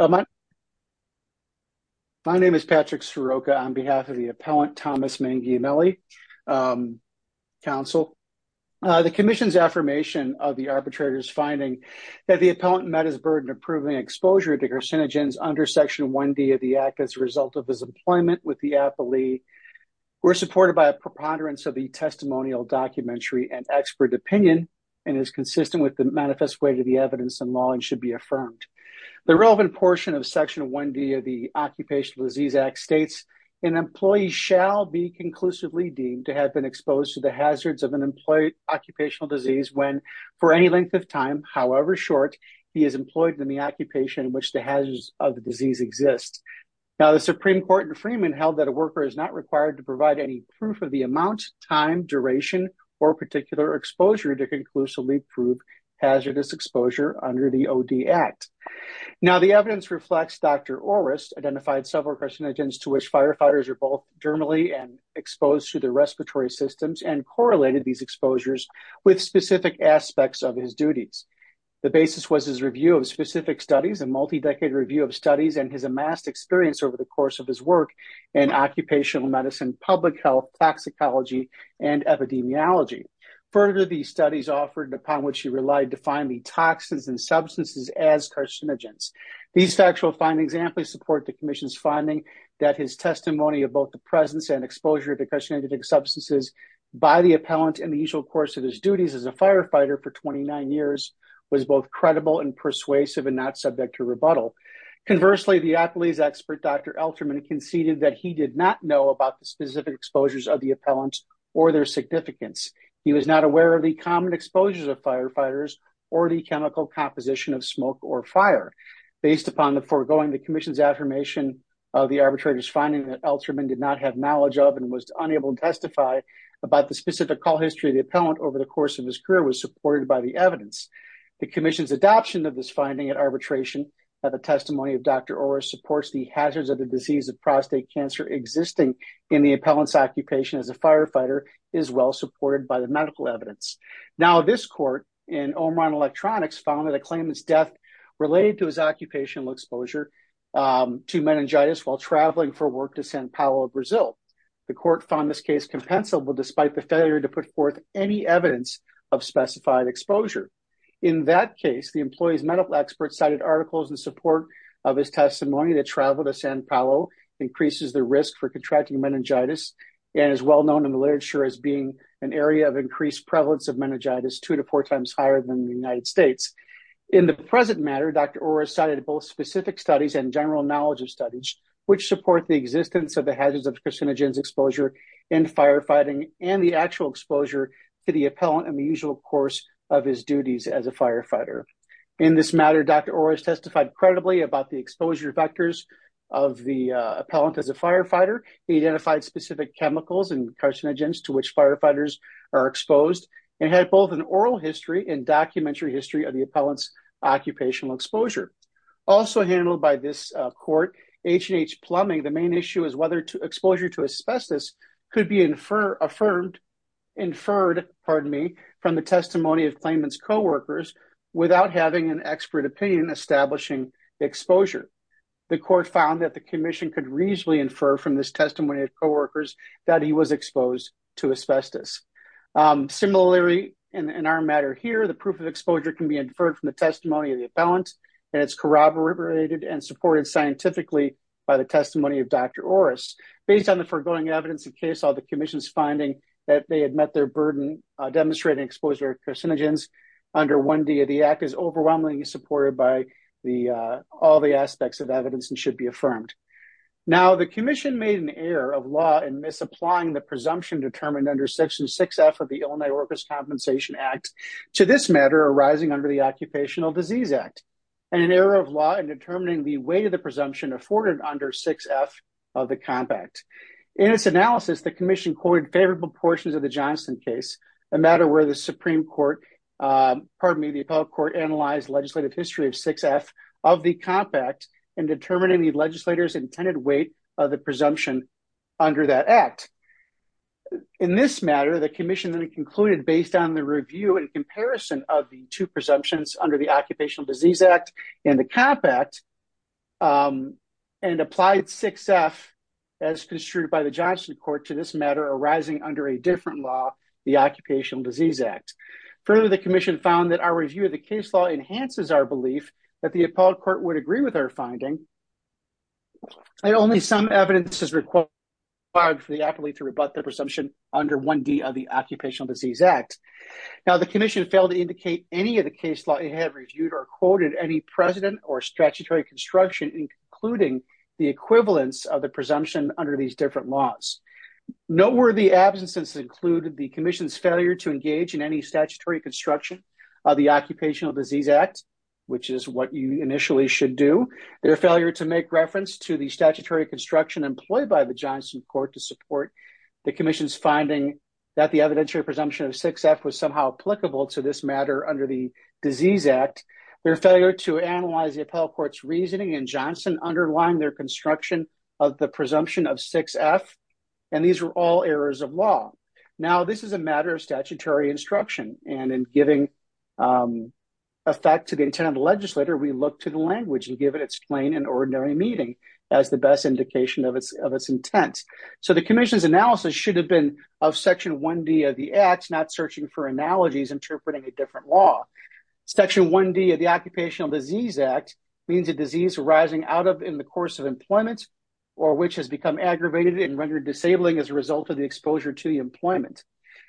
My name is Patrick Scirocca on behalf of the Appellant Thomas Manguiemelli Council. The Commission's affirmation of the arbitrator's finding that the Appellant met his burden of proving exposure to carcinogens under Section 1D of the Act as a result of his employment with the Appalee were supported by a preponderance of the testimonial documentary and expert opinion and is consistent with the manifest way to the evidence in law and should be affirmed. The relevant portion of Section 1D of the Occupational Disease Act states, an employee shall be conclusively deemed to have been exposed to the hazards of an employee's occupational disease when, for any length of time, however short, he is employed in the occupation in which the hazards of the disease exist. Now, the Supreme Court in Freeman held that a worker is not required to provide any proof of the amount, time, duration, or particular exposure to conclusively prove hazardous exposure under the O.D. Act. Now, the evidence reflects Dr. Orrest identified several carcinogens to which firefighters are both germally and exposed to their respiratory systems and correlated these exposures with specific aspects of his duties. The basis was his review of specific studies, a multi-decade review of studies, and his amassed experience over the course of his work in occupational medicine, public health, toxicology, and epidemiology. Further, these studies offered upon which he relied to find the toxins and substances as carcinogens. These factual findings amply support the Commission's finding that his testimony of both the presence and exposure of the carcinogenic substances by the appellant in the usual course of his duties as a firefighter for 29 years was both credible and persuasive and not subject to rebuttal. Conversely, the appellee's expert, Dr. Elterman, conceded that he did not know about the specific exposures of the appellant or their significance. He was not aware of the common exposures of firefighters or the chemical composition of smoke or fire. Based upon the foregoing, the Commission's affirmation of the arbitrator's finding that Elterman did not have knowledge of and was unable to testify about the specific call history of the appellant over the course of his career was supported by the evidence. The Commission's adoption of this finding at arbitration at the testimony of Dr. Orrest supports the hazards of disease of prostate cancer existing in the appellant's occupation as a firefighter is well supported by the medical evidence. Now, this court in Omron Electronics found that a claimant's death related to his occupational exposure to meningitis while traveling for work to San Paolo, Brazil. The court found this case compensable despite the failure to put forth any evidence of specified exposure. In that case, the employee's medical expert cited articles in support of his testimony that travel to San Paolo increases the risk for contracting meningitis and is well known in the literature as being an area of increased prevalence of meningitis two to four times higher than the United States. In the present matter, Dr. Orrest cited both specific studies and general knowledge of studies which support the existence of the hazards of carcinogens exposure in firefighting and the actual exposure to the appellant in the usual course of his duties as a firefighter. In this matter, Dr. Orrest testified credibly about the exposure vectors of the appellant as a firefighter. He identified specific chemicals and carcinogens to which firefighters are exposed and had both an oral history and documentary history of the appellant's occupational exposure. Also handled by this court, H&H Plumbing, the main issue is whether exposure to asbestos could be inferred from the testimony of claimant's co-workers without having an expert opinion establishing exposure. The court found that the commission could reasonably infer from this testimony of co-workers that he was exposed to asbestos. Similarly, in our matter here, the proof of exposure can be inferred from the testimony of the appellant and it's corroborated and supported scientifically by the testimony of Dr. Orrest. Based on the foregoing evidence in case all the commission's finding that they is overwhelmingly supported by all the aspects of evidence and should be affirmed. Now, the commission made an error of law in misapplying the presumption determined under section 6F of the Illinois Workers' Compensation Act to this matter arising under the Occupational Disease Act. An error of law in determining the weight of the presumption afforded under 6F of the compact. In its analysis, the commission quoted favorable portions of the Johnston case, a matter where the Supreme Court, pardon me, the appellate court analyzed legislative history of 6F of the compact in determining the legislator's intended weight of the presumption under that act. In this matter, the commission then concluded based on the review and comparison of the two presumptions under the Occupational Disease Act and the compact and applied 6F as construed by Johnston Court to this matter arising under a different law, the Occupational Disease Act. Further, the commission found that our review of the case law enhances our belief that the appellate court would agree with our finding. And only some evidence is required for the appellate to rebut the presumption under 1D of the Occupational Disease Act. Now, the commission failed to indicate any of the case law it had reviewed or quoted any precedent or statutory construction in concluding the Noteworthy absences include the commission's failure to engage in any statutory construction of the Occupational Disease Act, which is what you initially should do, their failure to make reference to the statutory construction employed by the Johnston Court to support the commission's finding that the evidentiary presumption of 6F was somehow applicable to this matter under the Disease Act, their failure to analyze the appellate court's and these were all errors of law. Now, this is a matter of statutory instruction and in giving effect to the intent of the legislator, we look to the language and give it its plain and ordinary meaning as the best indication of its intent. So, the commission's analysis should have been of Section 1D of the Act, not searching for analogies interpreting a different law. Section 1D of the Occupational Disease Act means a disease arising out of in the course of disabling as a result of the exposure to the employment.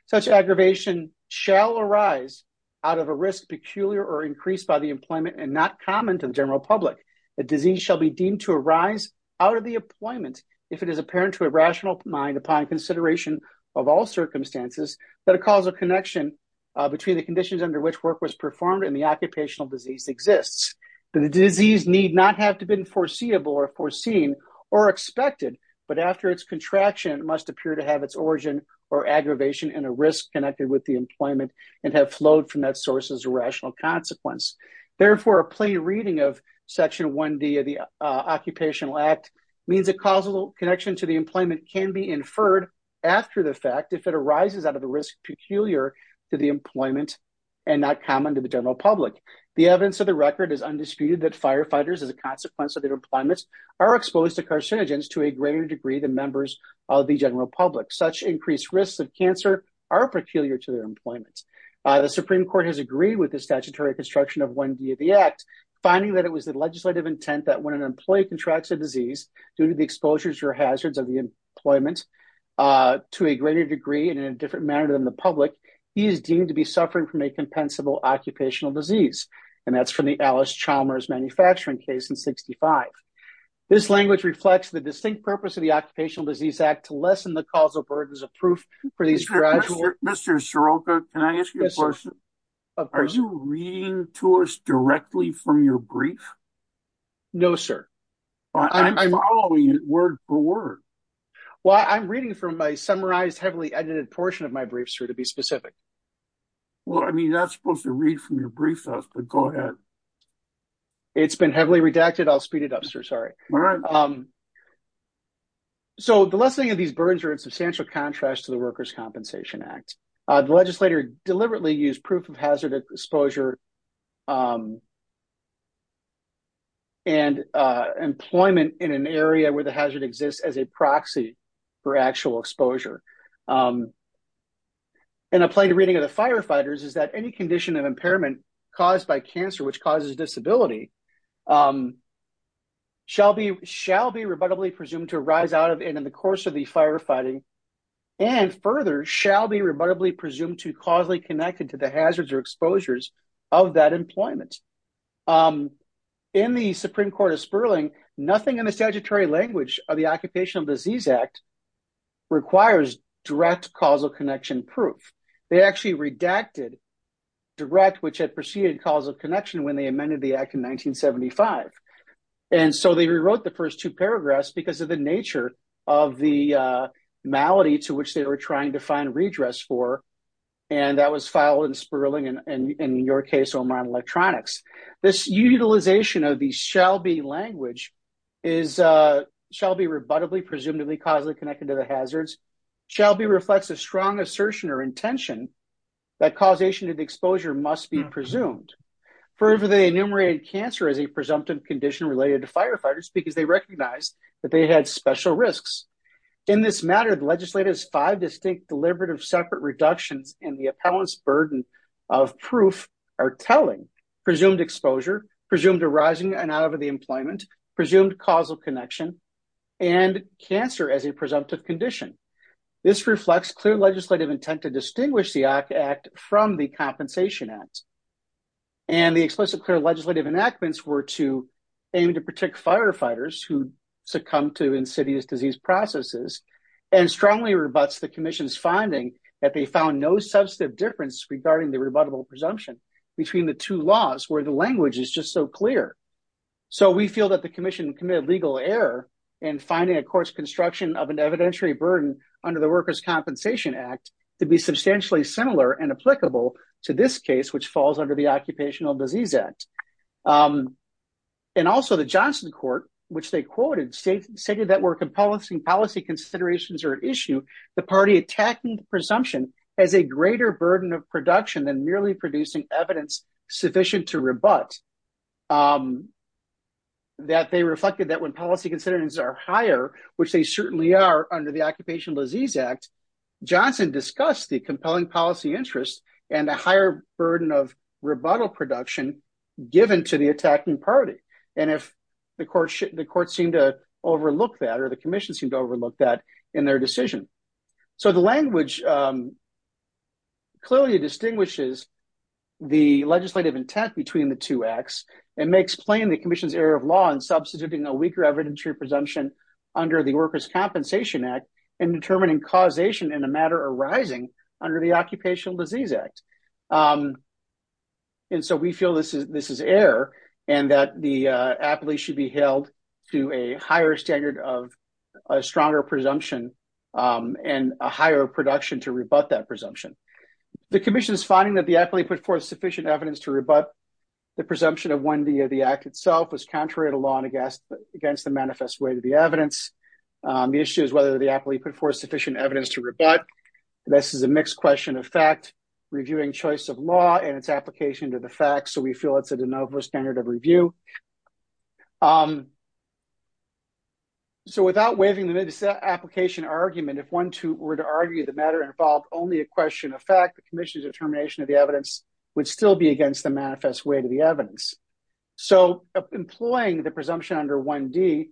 Such aggravation shall arise out of a risk peculiar or increased by the employment and not common to the general public. A disease shall be deemed to arise out of the employment if it is apparent to a rational mind upon consideration of all circumstances that a causal connection between the conditions under which work was performed and the occupational disease exists. The disease need not have to have been foreseeable or foreseen or expected but after its contraction must appear to have its origin or aggravation and a risk connected with the employment and have flowed from that source as a rational consequence. Therefore, a plain reading of Section 1D of the Occupational Act means a causal connection to the employment can be inferred after the fact if it arises out of the risk peculiar to the employment and not common to the general public. The evidence of the record is are exposed to carcinogens to a greater degree than members of the general public. Such increased risks of cancer are peculiar to their employment. The Supreme Court has agreed with the statutory construction of 1D of the Act finding that it was the legislative intent that when an employee contracts a disease due to the exposures or hazards of the employment to a greater degree and in a different manner than the public, he is deemed to be suffering from a compensable occupational disease. And that's from the Alice Chalmers manufacturing case in 1965. This language reflects the distinct purpose of the Occupational Disease Act to lessen the causal burdens of proof for these gradual... Mr. Soroka, can I ask you a question? Are you reading to us directly from your brief? No, sir. I'm following you word for word. Well, I'm reading from my summarized heavily edited portion of my brief, sir, to be specific. Well, I mean, that's supposed to read from your brief, but go ahead. It's been heavily redacted. I'll speed it up, sir. Sorry. So the lessening of these burdens are in substantial contrast to the Workers' Compensation Act. The legislator deliberately used proof of hazard exposure and employment in an area where the hazard exists as a proxy for actual exposure. And a plain reading of the firefighters is that any condition of impairment caused by cancer, which causes disability, shall be rebuttably presumed to arise out of and in the course of the firefighting and further shall be rebuttably presumed to causally connected to the hazards or exposures of that employment. In the Supreme Court of Sperling, nothing in the statutory language of the Occupational Disease Act requires direct causal connection proof. They actually redacted direct, which had preceded calls of connection when they amended the act in 1975. And so they rewrote the first two paragraphs because of the nature of the malady to which they were trying to find redress for. And that was filed in Sperling and in your case, Omron Electronics. This utilization of the shall be language shall be rebuttably presumed to be causally connected to the hazards. Shall be reflects a strong assertion or intention that causation of exposure must be presumed. Further, they enumerated cancer as a presumptive condition related to firefighters because they recognized that they had special risks. In this matter, the legislator's five distinct deliberative separate reductions in the telling, presumed exposure, presumed arising and out of the employment, presumed causal connection, and cancer as a presumptive condition. This reflects clear legislative intent to distinguish the act from the Compensation Act. And the explicit clear legislative enactments were to aim to protect firefighters who succumb to insidious disease processes and strongly rebuts the commission's finding that they found no substantive difference regarding the rebuttable presumption between the two laws where the language is just so clear. So we feel that the commission committed legal error in finding a course construction of an evidentiary burden under the Workers' Compensation Act to be substantially similar and applicable to this case, which falls under the Occupational Disease Act. And also the Johnson court, which they quoted, stated that were composing policy considerations or issue, the party attacking presumption as a greater burden of production than merely producing evidence sufficient to rebut. That they reflected that when policy considerations are higher, which they certainly are under the Occupational Disease Act, Johnson discussed the compelling policy interest and the higher burden of rebuttal production given to the attacking party. And if the court seemed to overlook that the commission seemed to overlook that in their decision. So the language clearly distinguishes the legislative intent between the two acts and may explain the commission's error of law in substituting a weaker evidentiary presumption under the Workers' Compensation Act and determining causation in a matter arising under the Occupational Disease Act. And so we feel this is error and that the appellee should be held to a higher standard of a stronger presumption and a higher production to rebut that presumption. The commission is finding that the appellee put forth sufficient evidence to rebut the presumption of when the act itself was contrary to law and against the manifest way to the evidence. The issue is whether the appellee put forth sufficient evidence to rebut. This is a mixed question of fact, reviewing choice of law and its application to the facts. So we feel it's a de novo standard of review. So without waiving the application argument, if one were to argue the matter involved only a question of fact, the commission's determination of the evidence would still be against the manifest way to the evidence. So employing the presumption under 1D,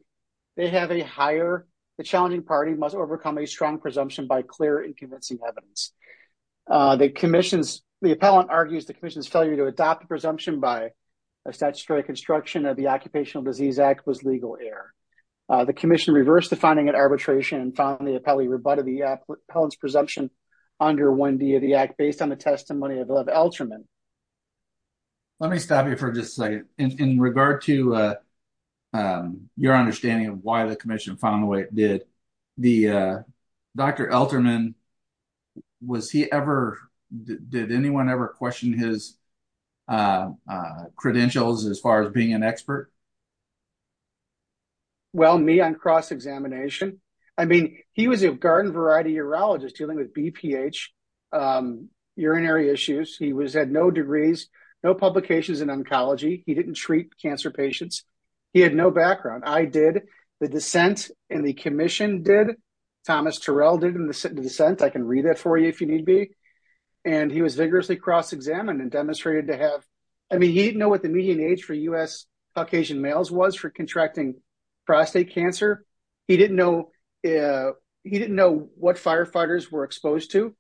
they have a higher, the challenging party must overcome a strong presumption by clear and convincing evidence. The commission's, the appellant argues the commission's failure to adopt the presumption by a statutory construction of the Occupational Disease Act was legal error. The commission reversed the finding at arbitration and found the appellee rebutted the appellant's presumption under 1D of the act based on the testimony of Elterman. Let me stop you for just a second. In regard to your understanding of why the commission found the way it did, the Dr. Elterman, was he ever, did anyone ever question his credentials as far as being an expert? Well, me on cross-examination. I mean, he was a garden variety urologist dealing with BPH, urinary issues. He was, had no degrees, no publications in oncology. He didn't treat cancer patients. He had no background. I did, the dissent and the commission did, Thomas Terrell did in the dissent. I can read that for you if you need be. And he was vigorously cross-examined and demonstrated to have, I mean, he didn't know what the median age for U.S. Caucasian males was for contracting prostate cancer. He didn't know, he didn't know what firefighters were exposed to.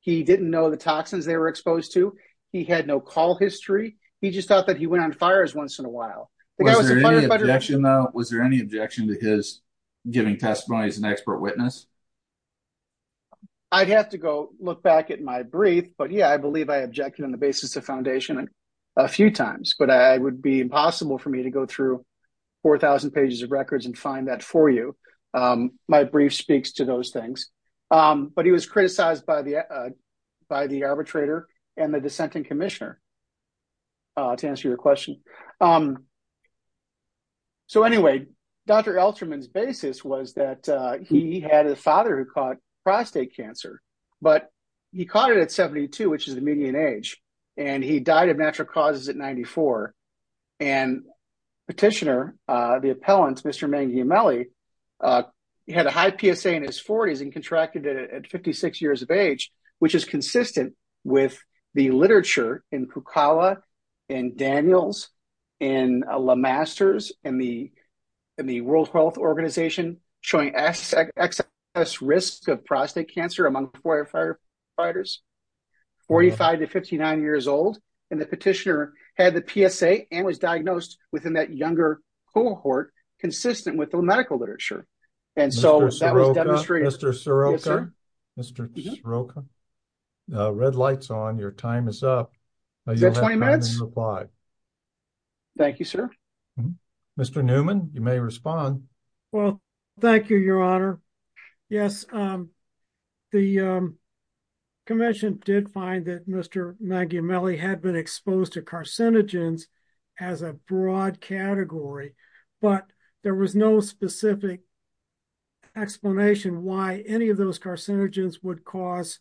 He didn't know the toxins they were exposed to. He had no call history. He just thought that he went on fires once in a while. Was there any objection to his giving testimony as an expert witness? I'd have to go look back at my brief, but yeah, I believe I objected on the basis of foundation a few times, but it would be impossible for me to go through 4,000 pages of records and find that for you. My brief speaks to those things. But he was criticized by the arbitrator and the dissenting commissioner, to answer your question. So anyway, Dr. Elsterman's basis was that he had a father who caught prostate cancer, but he caught it at 72, which is the median age, and he died of natural causes at 94. And petitioner, the appellant, Mr. Mangiamelli, he had a high PSA in his 40s and contracted it at 56 years of age, which is consistent with the literature in Kukawa, in Daniels, in Le Masters, in the World Health Organization, showing excess risk of prostate cancer among firefighters, 45 to 59 years old. And the petitioner had the PSA and was diagnosed within that younger cohort, consistent with the medical literature. And so that was demonstrated- Mr. Soroka, red light's on, your time is up. Thank you, sir. Mr. Newman, you may respond. Well, thank you, your honor. Yes, the commission did find that Mr. Mangiamelli had been exposed to carcinogens as a broad category, but there was no specific explanation why any of those carcinogens would cause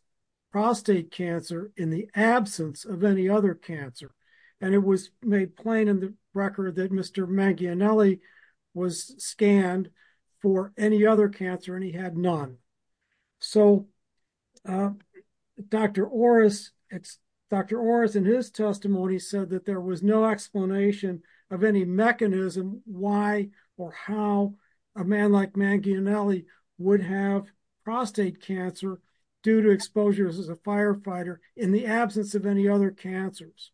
prostate cancer in the absence of any other cancer. And it was made plain in the record that Mr. Mangiamelli was scanned for any other cancer and he had none. So, Dr. Orris, in his testimony, said that there was no explanation of any mechanism why or how a man like Mangiamelli would have prostate cancer due to exposures as a firefighter in the absence of any other cancers.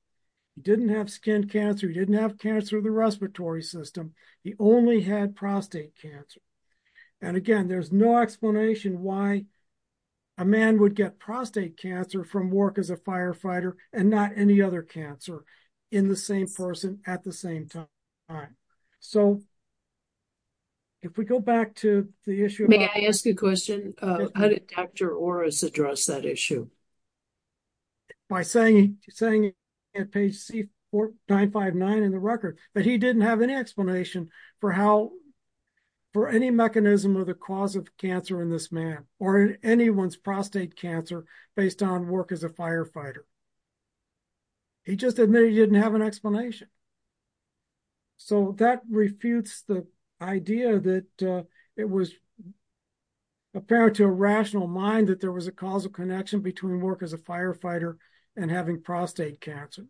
He didn't have skin cancer, he didn't have cancer of the respiratory system, he only had prostate cancer. And again, there's no explanation why a man would get prostate cancer from work as a firefighter and not any other cancer in the same person at the same time. So, if we go back to the issue- May I ask a question? How did Dr. Orris address that issue? By saying, at page C459 in the record, that he didn't have any explanation for how, for any mechanism of the cause of cancer in this man, or in anyone's prostate cancer, based on work as a firefighter. He just admitted he didn't have an explanation. So, that refutes the idea that it was apparent to a rational mind that there was a causal connection between work as a firefighter and having prostate cancer.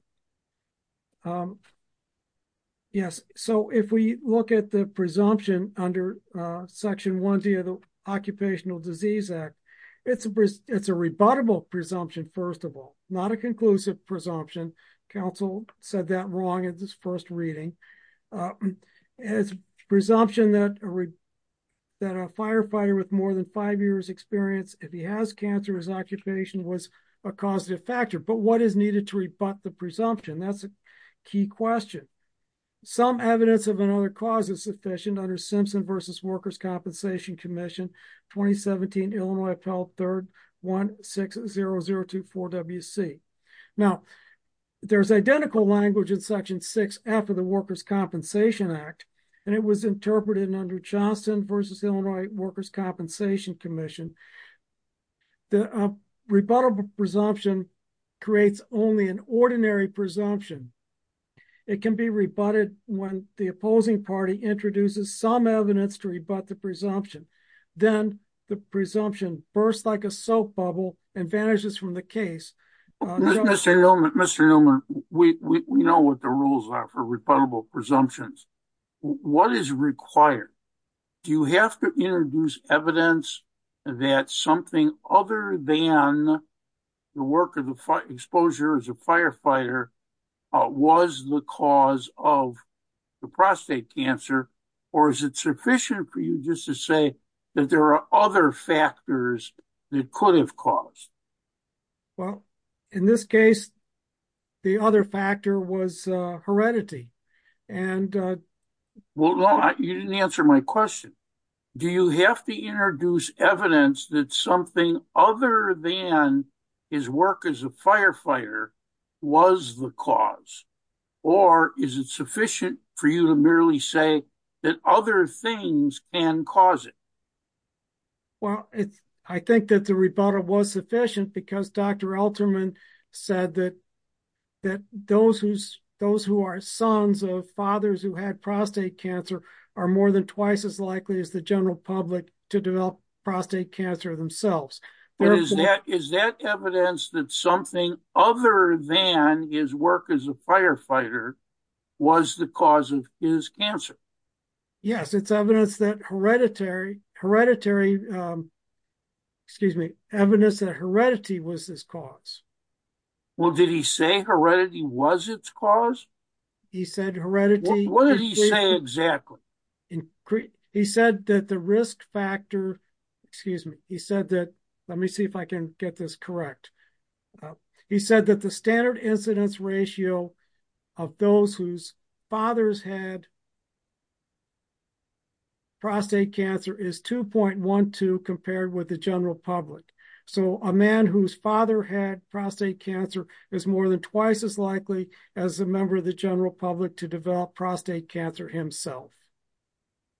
Yes, so if we look at the presumption under Section 1D of the Occupational Disease Act, it's a rebuttable presumption, first of all, not a conclusive presumption. Council said that wrong in this first reading. It's a presumption that a firefighter with more than five years experience, if he has cancer, his occupation was a causative factor. But what is needed to rebut the presumption? That's a key question. Some evidence of another cause is sufficient under Simpson v. Workers' Compensation Commission, 2017, Illinois Appellate 3rd, 160024WC. Now, there's identical language in Section 6 after the Workers' Compensation Act, and it was interpreted under Johnston v. Illinois Workers' Compensation Commission. The rebuttable presumption creates only an ordinary presumption. It can be rebutted when the opposing party introduces some evidence to rebut the presumption. Then the presumption bursts like a soap bubble and vanishes from the case. Mr. Newman, we know what the rules are for rebuttable presumptions. What is required? Do you have to introduce evidence that something other than the exposure as a firefighter was the cause of the prostate cancer? Or is it sufficient for you just to say that there are other factors that could have caused? Well, in this case, the other factor was heredity. You didn't answer my question. Do you have to introduce evidence that something other than his work as a firefighter was the cause? Or is it sufficient for you to merely say that other things can cause it? Well, I think that the rebuttal was sufficient because Dr. Alterman said that those who are sons of fathers who had prostate cancer are more than themselves. Is that evidence that something other than his work as a firefighter was the cause of his cancer? Yes, it's evidence that hereditary, excuse me, evidence that heredity was his cause. Well, did he say heredity was its cause? He said heredity. What did he say exactly? He said that the risk factor, excuse me, he said that, let me see if I can get this correct. He said that the standard incidence ratio of those whose fathers had prostate cancer is 2.12 compared with the general public. So, a man whose father had the general public to develop prostate cancer himself.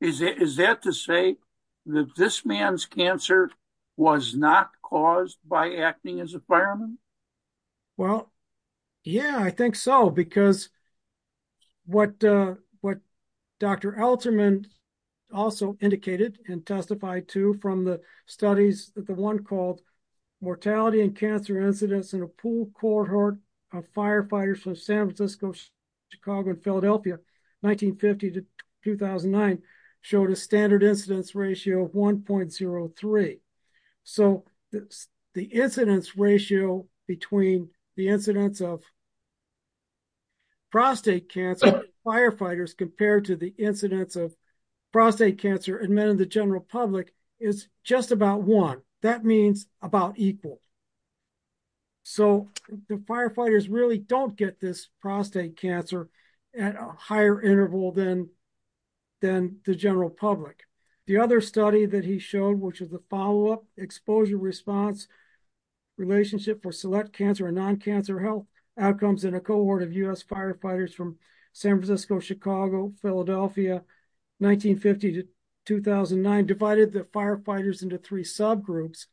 Is that to say that this man's cancer was not caused by acting as a fireman? Well, yeah, I think so because what Dr. Alterman also indicated and testified to from the studies that the one called mortality and San Francisco, Chicago, and Philadelphia, 1950 to 2009 showed a standard incidence ratio of 1.03. So, the incidence ratio between the incidence of prostate cancer in firefighters compared to the incidence of prostate cancer in men in the general public is just about one. That means about equal. So, the firefighters really don't get this prostate cancer at a higher interval than the general public. The other study that he showed, which is the follow-up exposure response relationship for select cancer and non-cancer health outcomes in a cohort of U.S. firefighters from San Francisco, Chicago, Philadelphia, 1950 to 2009 divided the firefighters into three subgroups.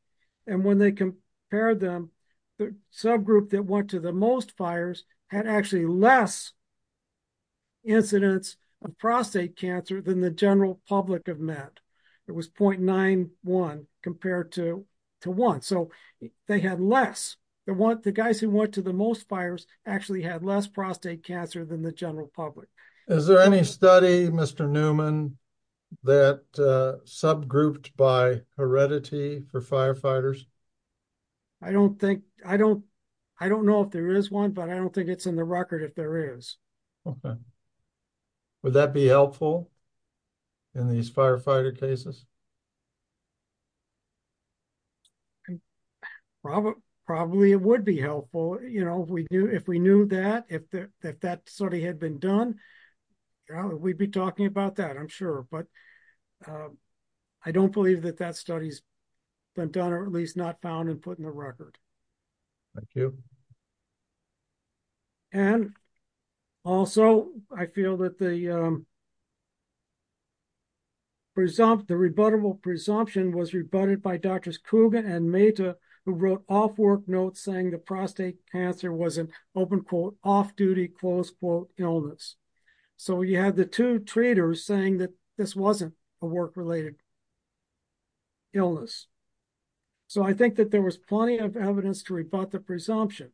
And when they compared them, the subgroup that went to the most fires had actually less incidence of prostate cancer than the general public of men. It was 0.91 compared to one. So, they had less. The guys who went to the most fires actually had less prostate cancer than the general public. Is there any study, Mr. Newman, that subgrouped by heredity for firefighters? I don't think, I don't know if there is one, but I don't think it's in the record if there is. Would that be helpful in these firefighter cases? Probably, it would be helpful. You know, if we knew that, if that study had been done, yeah, we'd be talking about that, I'm sure. But I don't believe that that study's been done or at least not found and put in the record. Thank you. And also, I feel that the rebuttable presumption was rebutted by Drs. Kuga and Mehta, who wrote off-work notes saying the prostate cancer was an, open quote, off-duty, close quote, illness. So, you had the two treaters saying that this wasn't a work-related illness. So, I think that there was plenty of evidence to rebut the presumption.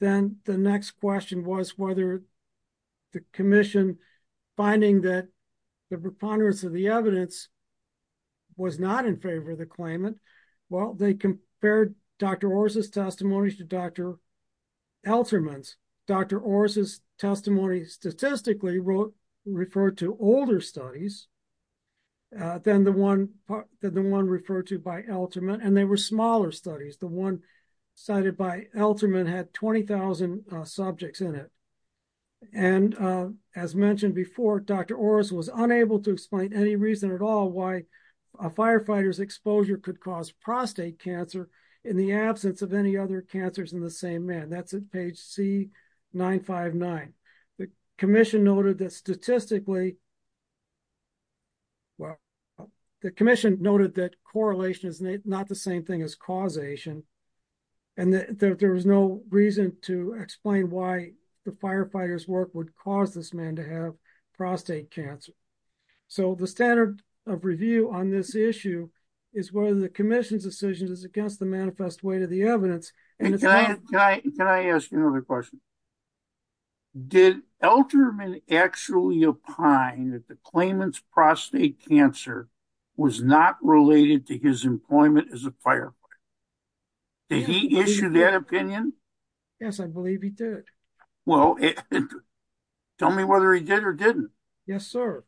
Then the next question was whether the commission, finding that the preponderance of the evidence was not in favor of the claimant, well, they compared Dr. Orr's testimony to Dr. Alterman's. Dr. Orr's testimony statistically referred to older studies than the one referred to by Alterman, and they were smaller studies. The one cited by Alterman had 20,000 subjects in it. And as mentioned before, Dr. Orr's was unable to explain any reason at all why a firefighter's exposure could cause prostate cancer in the absence of any other cancers in the same man. That's at page C959. The commission noted that statistically, well, the commission noted that correlation is not the same thing as causation, and that there was no reason to explain why the firefighter's work would cause this man to have prostate cancer. So, the standard of review on this issue is whether the commission's decision is against the manifest way to the evidence. And it's not- And can I ask another question? Did Alterman actually opine that the claimant's prostate cancer was not related to his employment as a firefighter? Did he issue that opinion? Yes, I believe he did. Well, tell me whether he did or didn't. Yes, sir.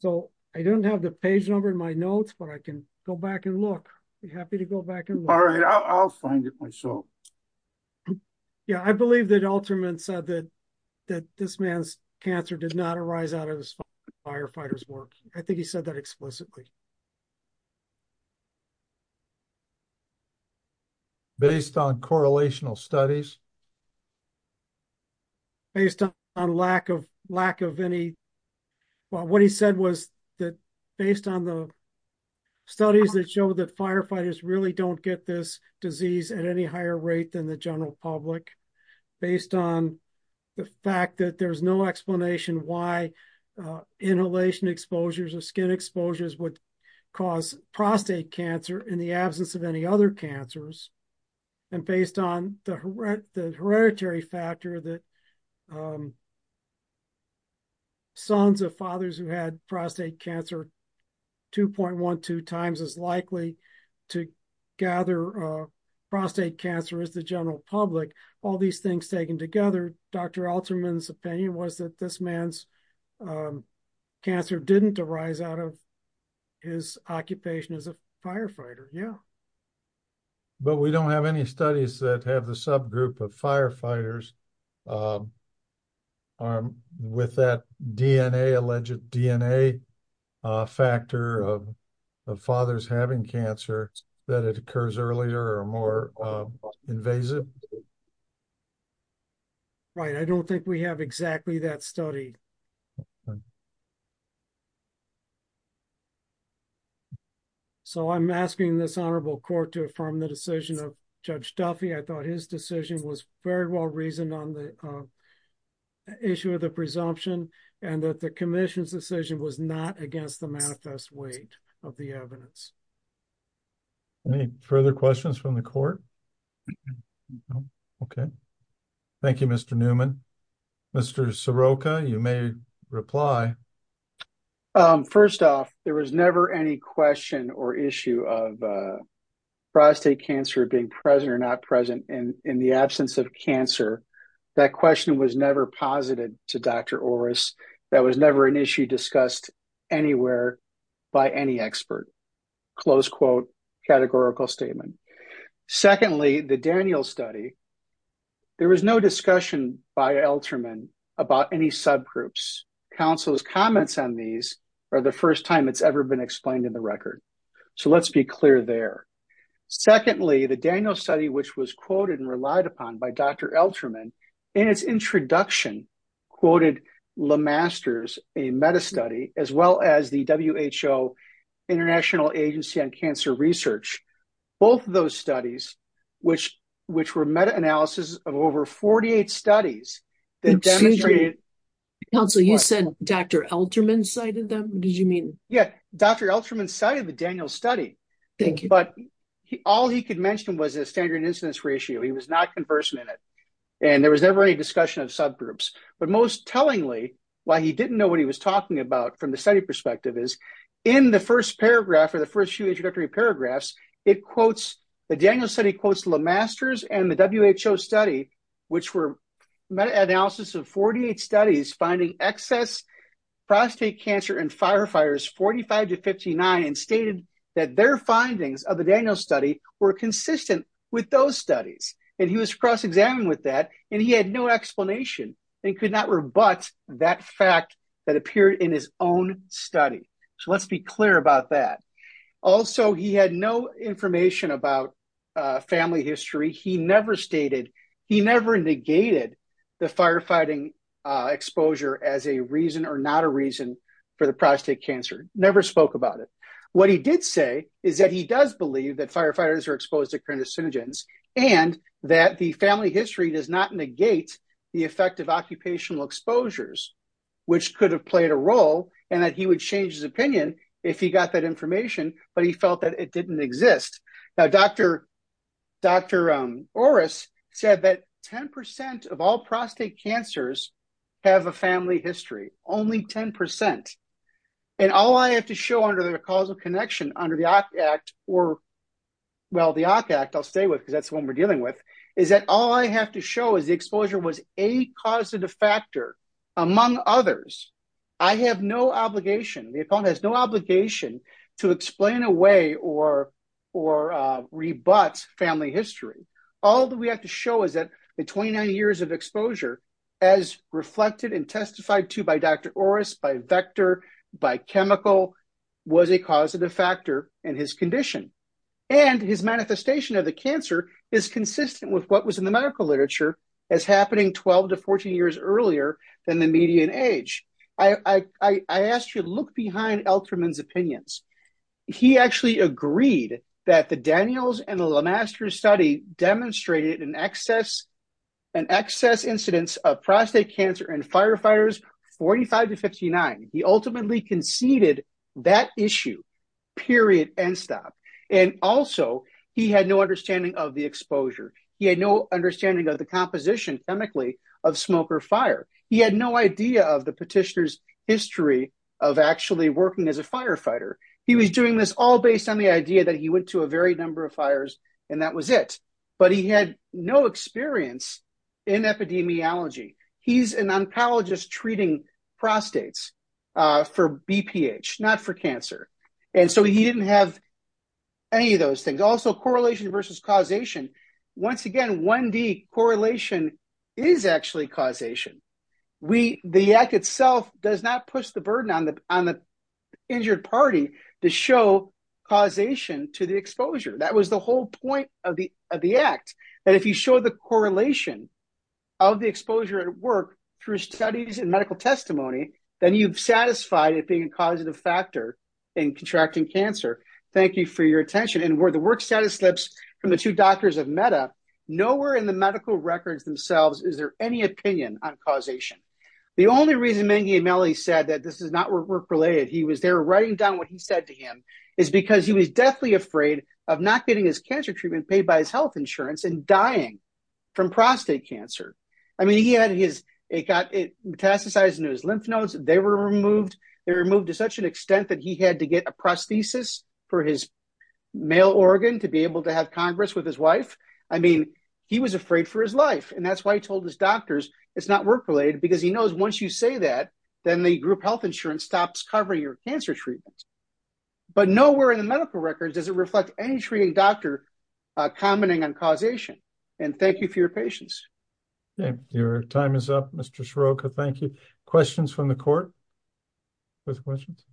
So, I don't have the page number in my notes, but I can go back and look. I'd be happy to go back and look. All right, I'll find it myself. Yeah, I believe that Alterman said that this man's cancer did not arise out of his firefighter's work. I think he said that explicitly. Based on correlational studies? Based on lack of any... Well, what he said was that based on the studies that show that firefighters really don't get this disease at any higher rate than the general public, based on the fact that there's no explanation why inhalation exposures or skin exposures would cause prostate cancer in the absence of any other cancers, and based on the hereditary factor that sons of fathers who had prostate cancer 2.12 times as likely to gather prostate cancer as general public, all these things taken together, Dr. Alterman's opinion was that this man's cancer didn't arise out of his occupation as a firefighter. But we don't have any studies that have the subgroup of firefighters with that DNA, alleged DNA factor of fathers having cancer, that it occurs earlier or more invasive. Right. I don't think we have exactly that study. So I'm asking this honorable court to affirm the decision of Judge Duffy. I thought his decision was very well reasoned on the issue of the presumption and that the commission's decision was not against the manifest weight of the evidence. Any further questions from the court? No. Okay. Thank you, Mr. Newman. Mr. Soroka, you may reply. First off, there was never any question or issue of prostate cancer being present or not present in the absence of cancer. That question was never posited to Dr. Orris. That was never an issue discussed anywhere by any expert, close quote, categorical statement. Secondly, the Daniel study, there was no discussion by Alterman about any subgroups. Counsel's comments on these are the first time it's ever been explained in the record. So let's be clear there. Secondly, the Daniel study, which was quoted and relied upon by Dr. Alterman in its introduction, quoted LeMasters, a meta study, as well as the WHO, International Agency on Cancer Research. Both of those studies, which were meta analysis of over 48 studies that demonstrated- Counsel, you said Dr. Alterman cited them? What did you mean? Yeah. Dr. Alterman cited the Daniel study. Thank you. But all he could mention was a standard incidence ratio. He was not conversant in it. And there was never any discussion of subgroups. But most tellingly, while he didn't know what he was talking about from the study perspective is, in the first paragraph or the first few introductory paragraphs, it quotes, the Daniel study quotes LeMasters and the WHO study, which were meta analysis of 48 studies finding excess prostate cancer in firefighters, 45 to 59, and stated that their findings of the studies. And he was cross-examined with that. And he had no explanation and could not rebut that fact that appeared in his own study. So let's be clear about that. Also, he had no information about family history. He never stated, he never negated the firefighting exposure as a reason or not a reason for the prostate cancer, never spoke about it. What he did say is that he does believe that firefighters are exposed to carcinogens and that the family history does not negate the effect of occupational exposures, which could have played a role and that he would change his opinion if he got that information, but he felt that it didn't exist. Now, Dr. Orris said that 10% of all prostate cancers have a family history, only 10%. And all I have to show under the Causal Connection under the OCK Act or, well, the OCK Act, I'll stay with because that's the one we're dealing with, is that all I have to show is the exposure was a causative factor among others. I have no obligation, the opponent has no obligation to explain away or rebut family history. All that we have to show is that the 29 years of exposure as reflected and testified to by Dr. Orris, by vector, by chemical, was a causative factor in his condition. And his manifestation of the cancer is consistent with what was in the medical literature as happening 12 to 14 years earlier than the median age. I asked you to look behind Elterman's opinions. He actually agreed that the Daniels and Lemasters study demonstrated an excess incidence of prostate cancer in firefighters 45 to 59. He ultimately conceded that issue, period, end stop. And also, he had no understanding of the exposure. He had no understanding of the composition, chemically, of smoke or fire. He had no idea of the petitioner's history of actually working as a firefighter. He was doing this all based on the idea that he went to a varied number of fires and that was it. But he had no experience in epidemiology. He's an oncologist treating prostates for BPH, not for cancer. And so he didn't have any of those things. Also, correlation versus causation. Once again, 1D correlation is actually causation. The act itself does not push the burden on the injured party to show causation to the exposure. That was the whole point of the act, that if you show the correlation of the exposure at work through studies and medical testimony, then you've satisfied it being a causative factor in contracting cancer. Thank you for your attention. And where the work status slips from the two doctors of MEDA, nowhere in the medical records themselves is there any opinion on causation. The only reason Mengi and Melody said that this is not work-related, he was there said to him, is because he was deathly afraid of not getting his cancer treatment paid by his health insurance and dying from prostate cancer. I mean, he had his metastasized lymph nodes, they were removed to such an extent that he had to get a prosthesis for his male organ to be able to have Congress with his wife. I mean, he was afraid for his life. And that's why he told his doctors it's not work-related, because he knows once you say that, then the group health insurance stops covering your cancer treatments. But nowhere in the medical records does it reflect any treating doctor commenting on causation. And thank you for your patience. Okay. Your time is up, Mr. Scirocco. Thank you. Questions from the court? No questions?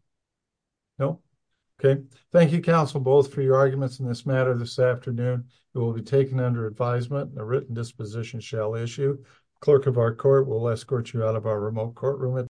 No? Okay. Thank you, counsel, both for your arguments in this matter this afternoon. It will be taken under advisement and a written disposition shall issue. Clerk of our court will escort you out of our remote courtroom at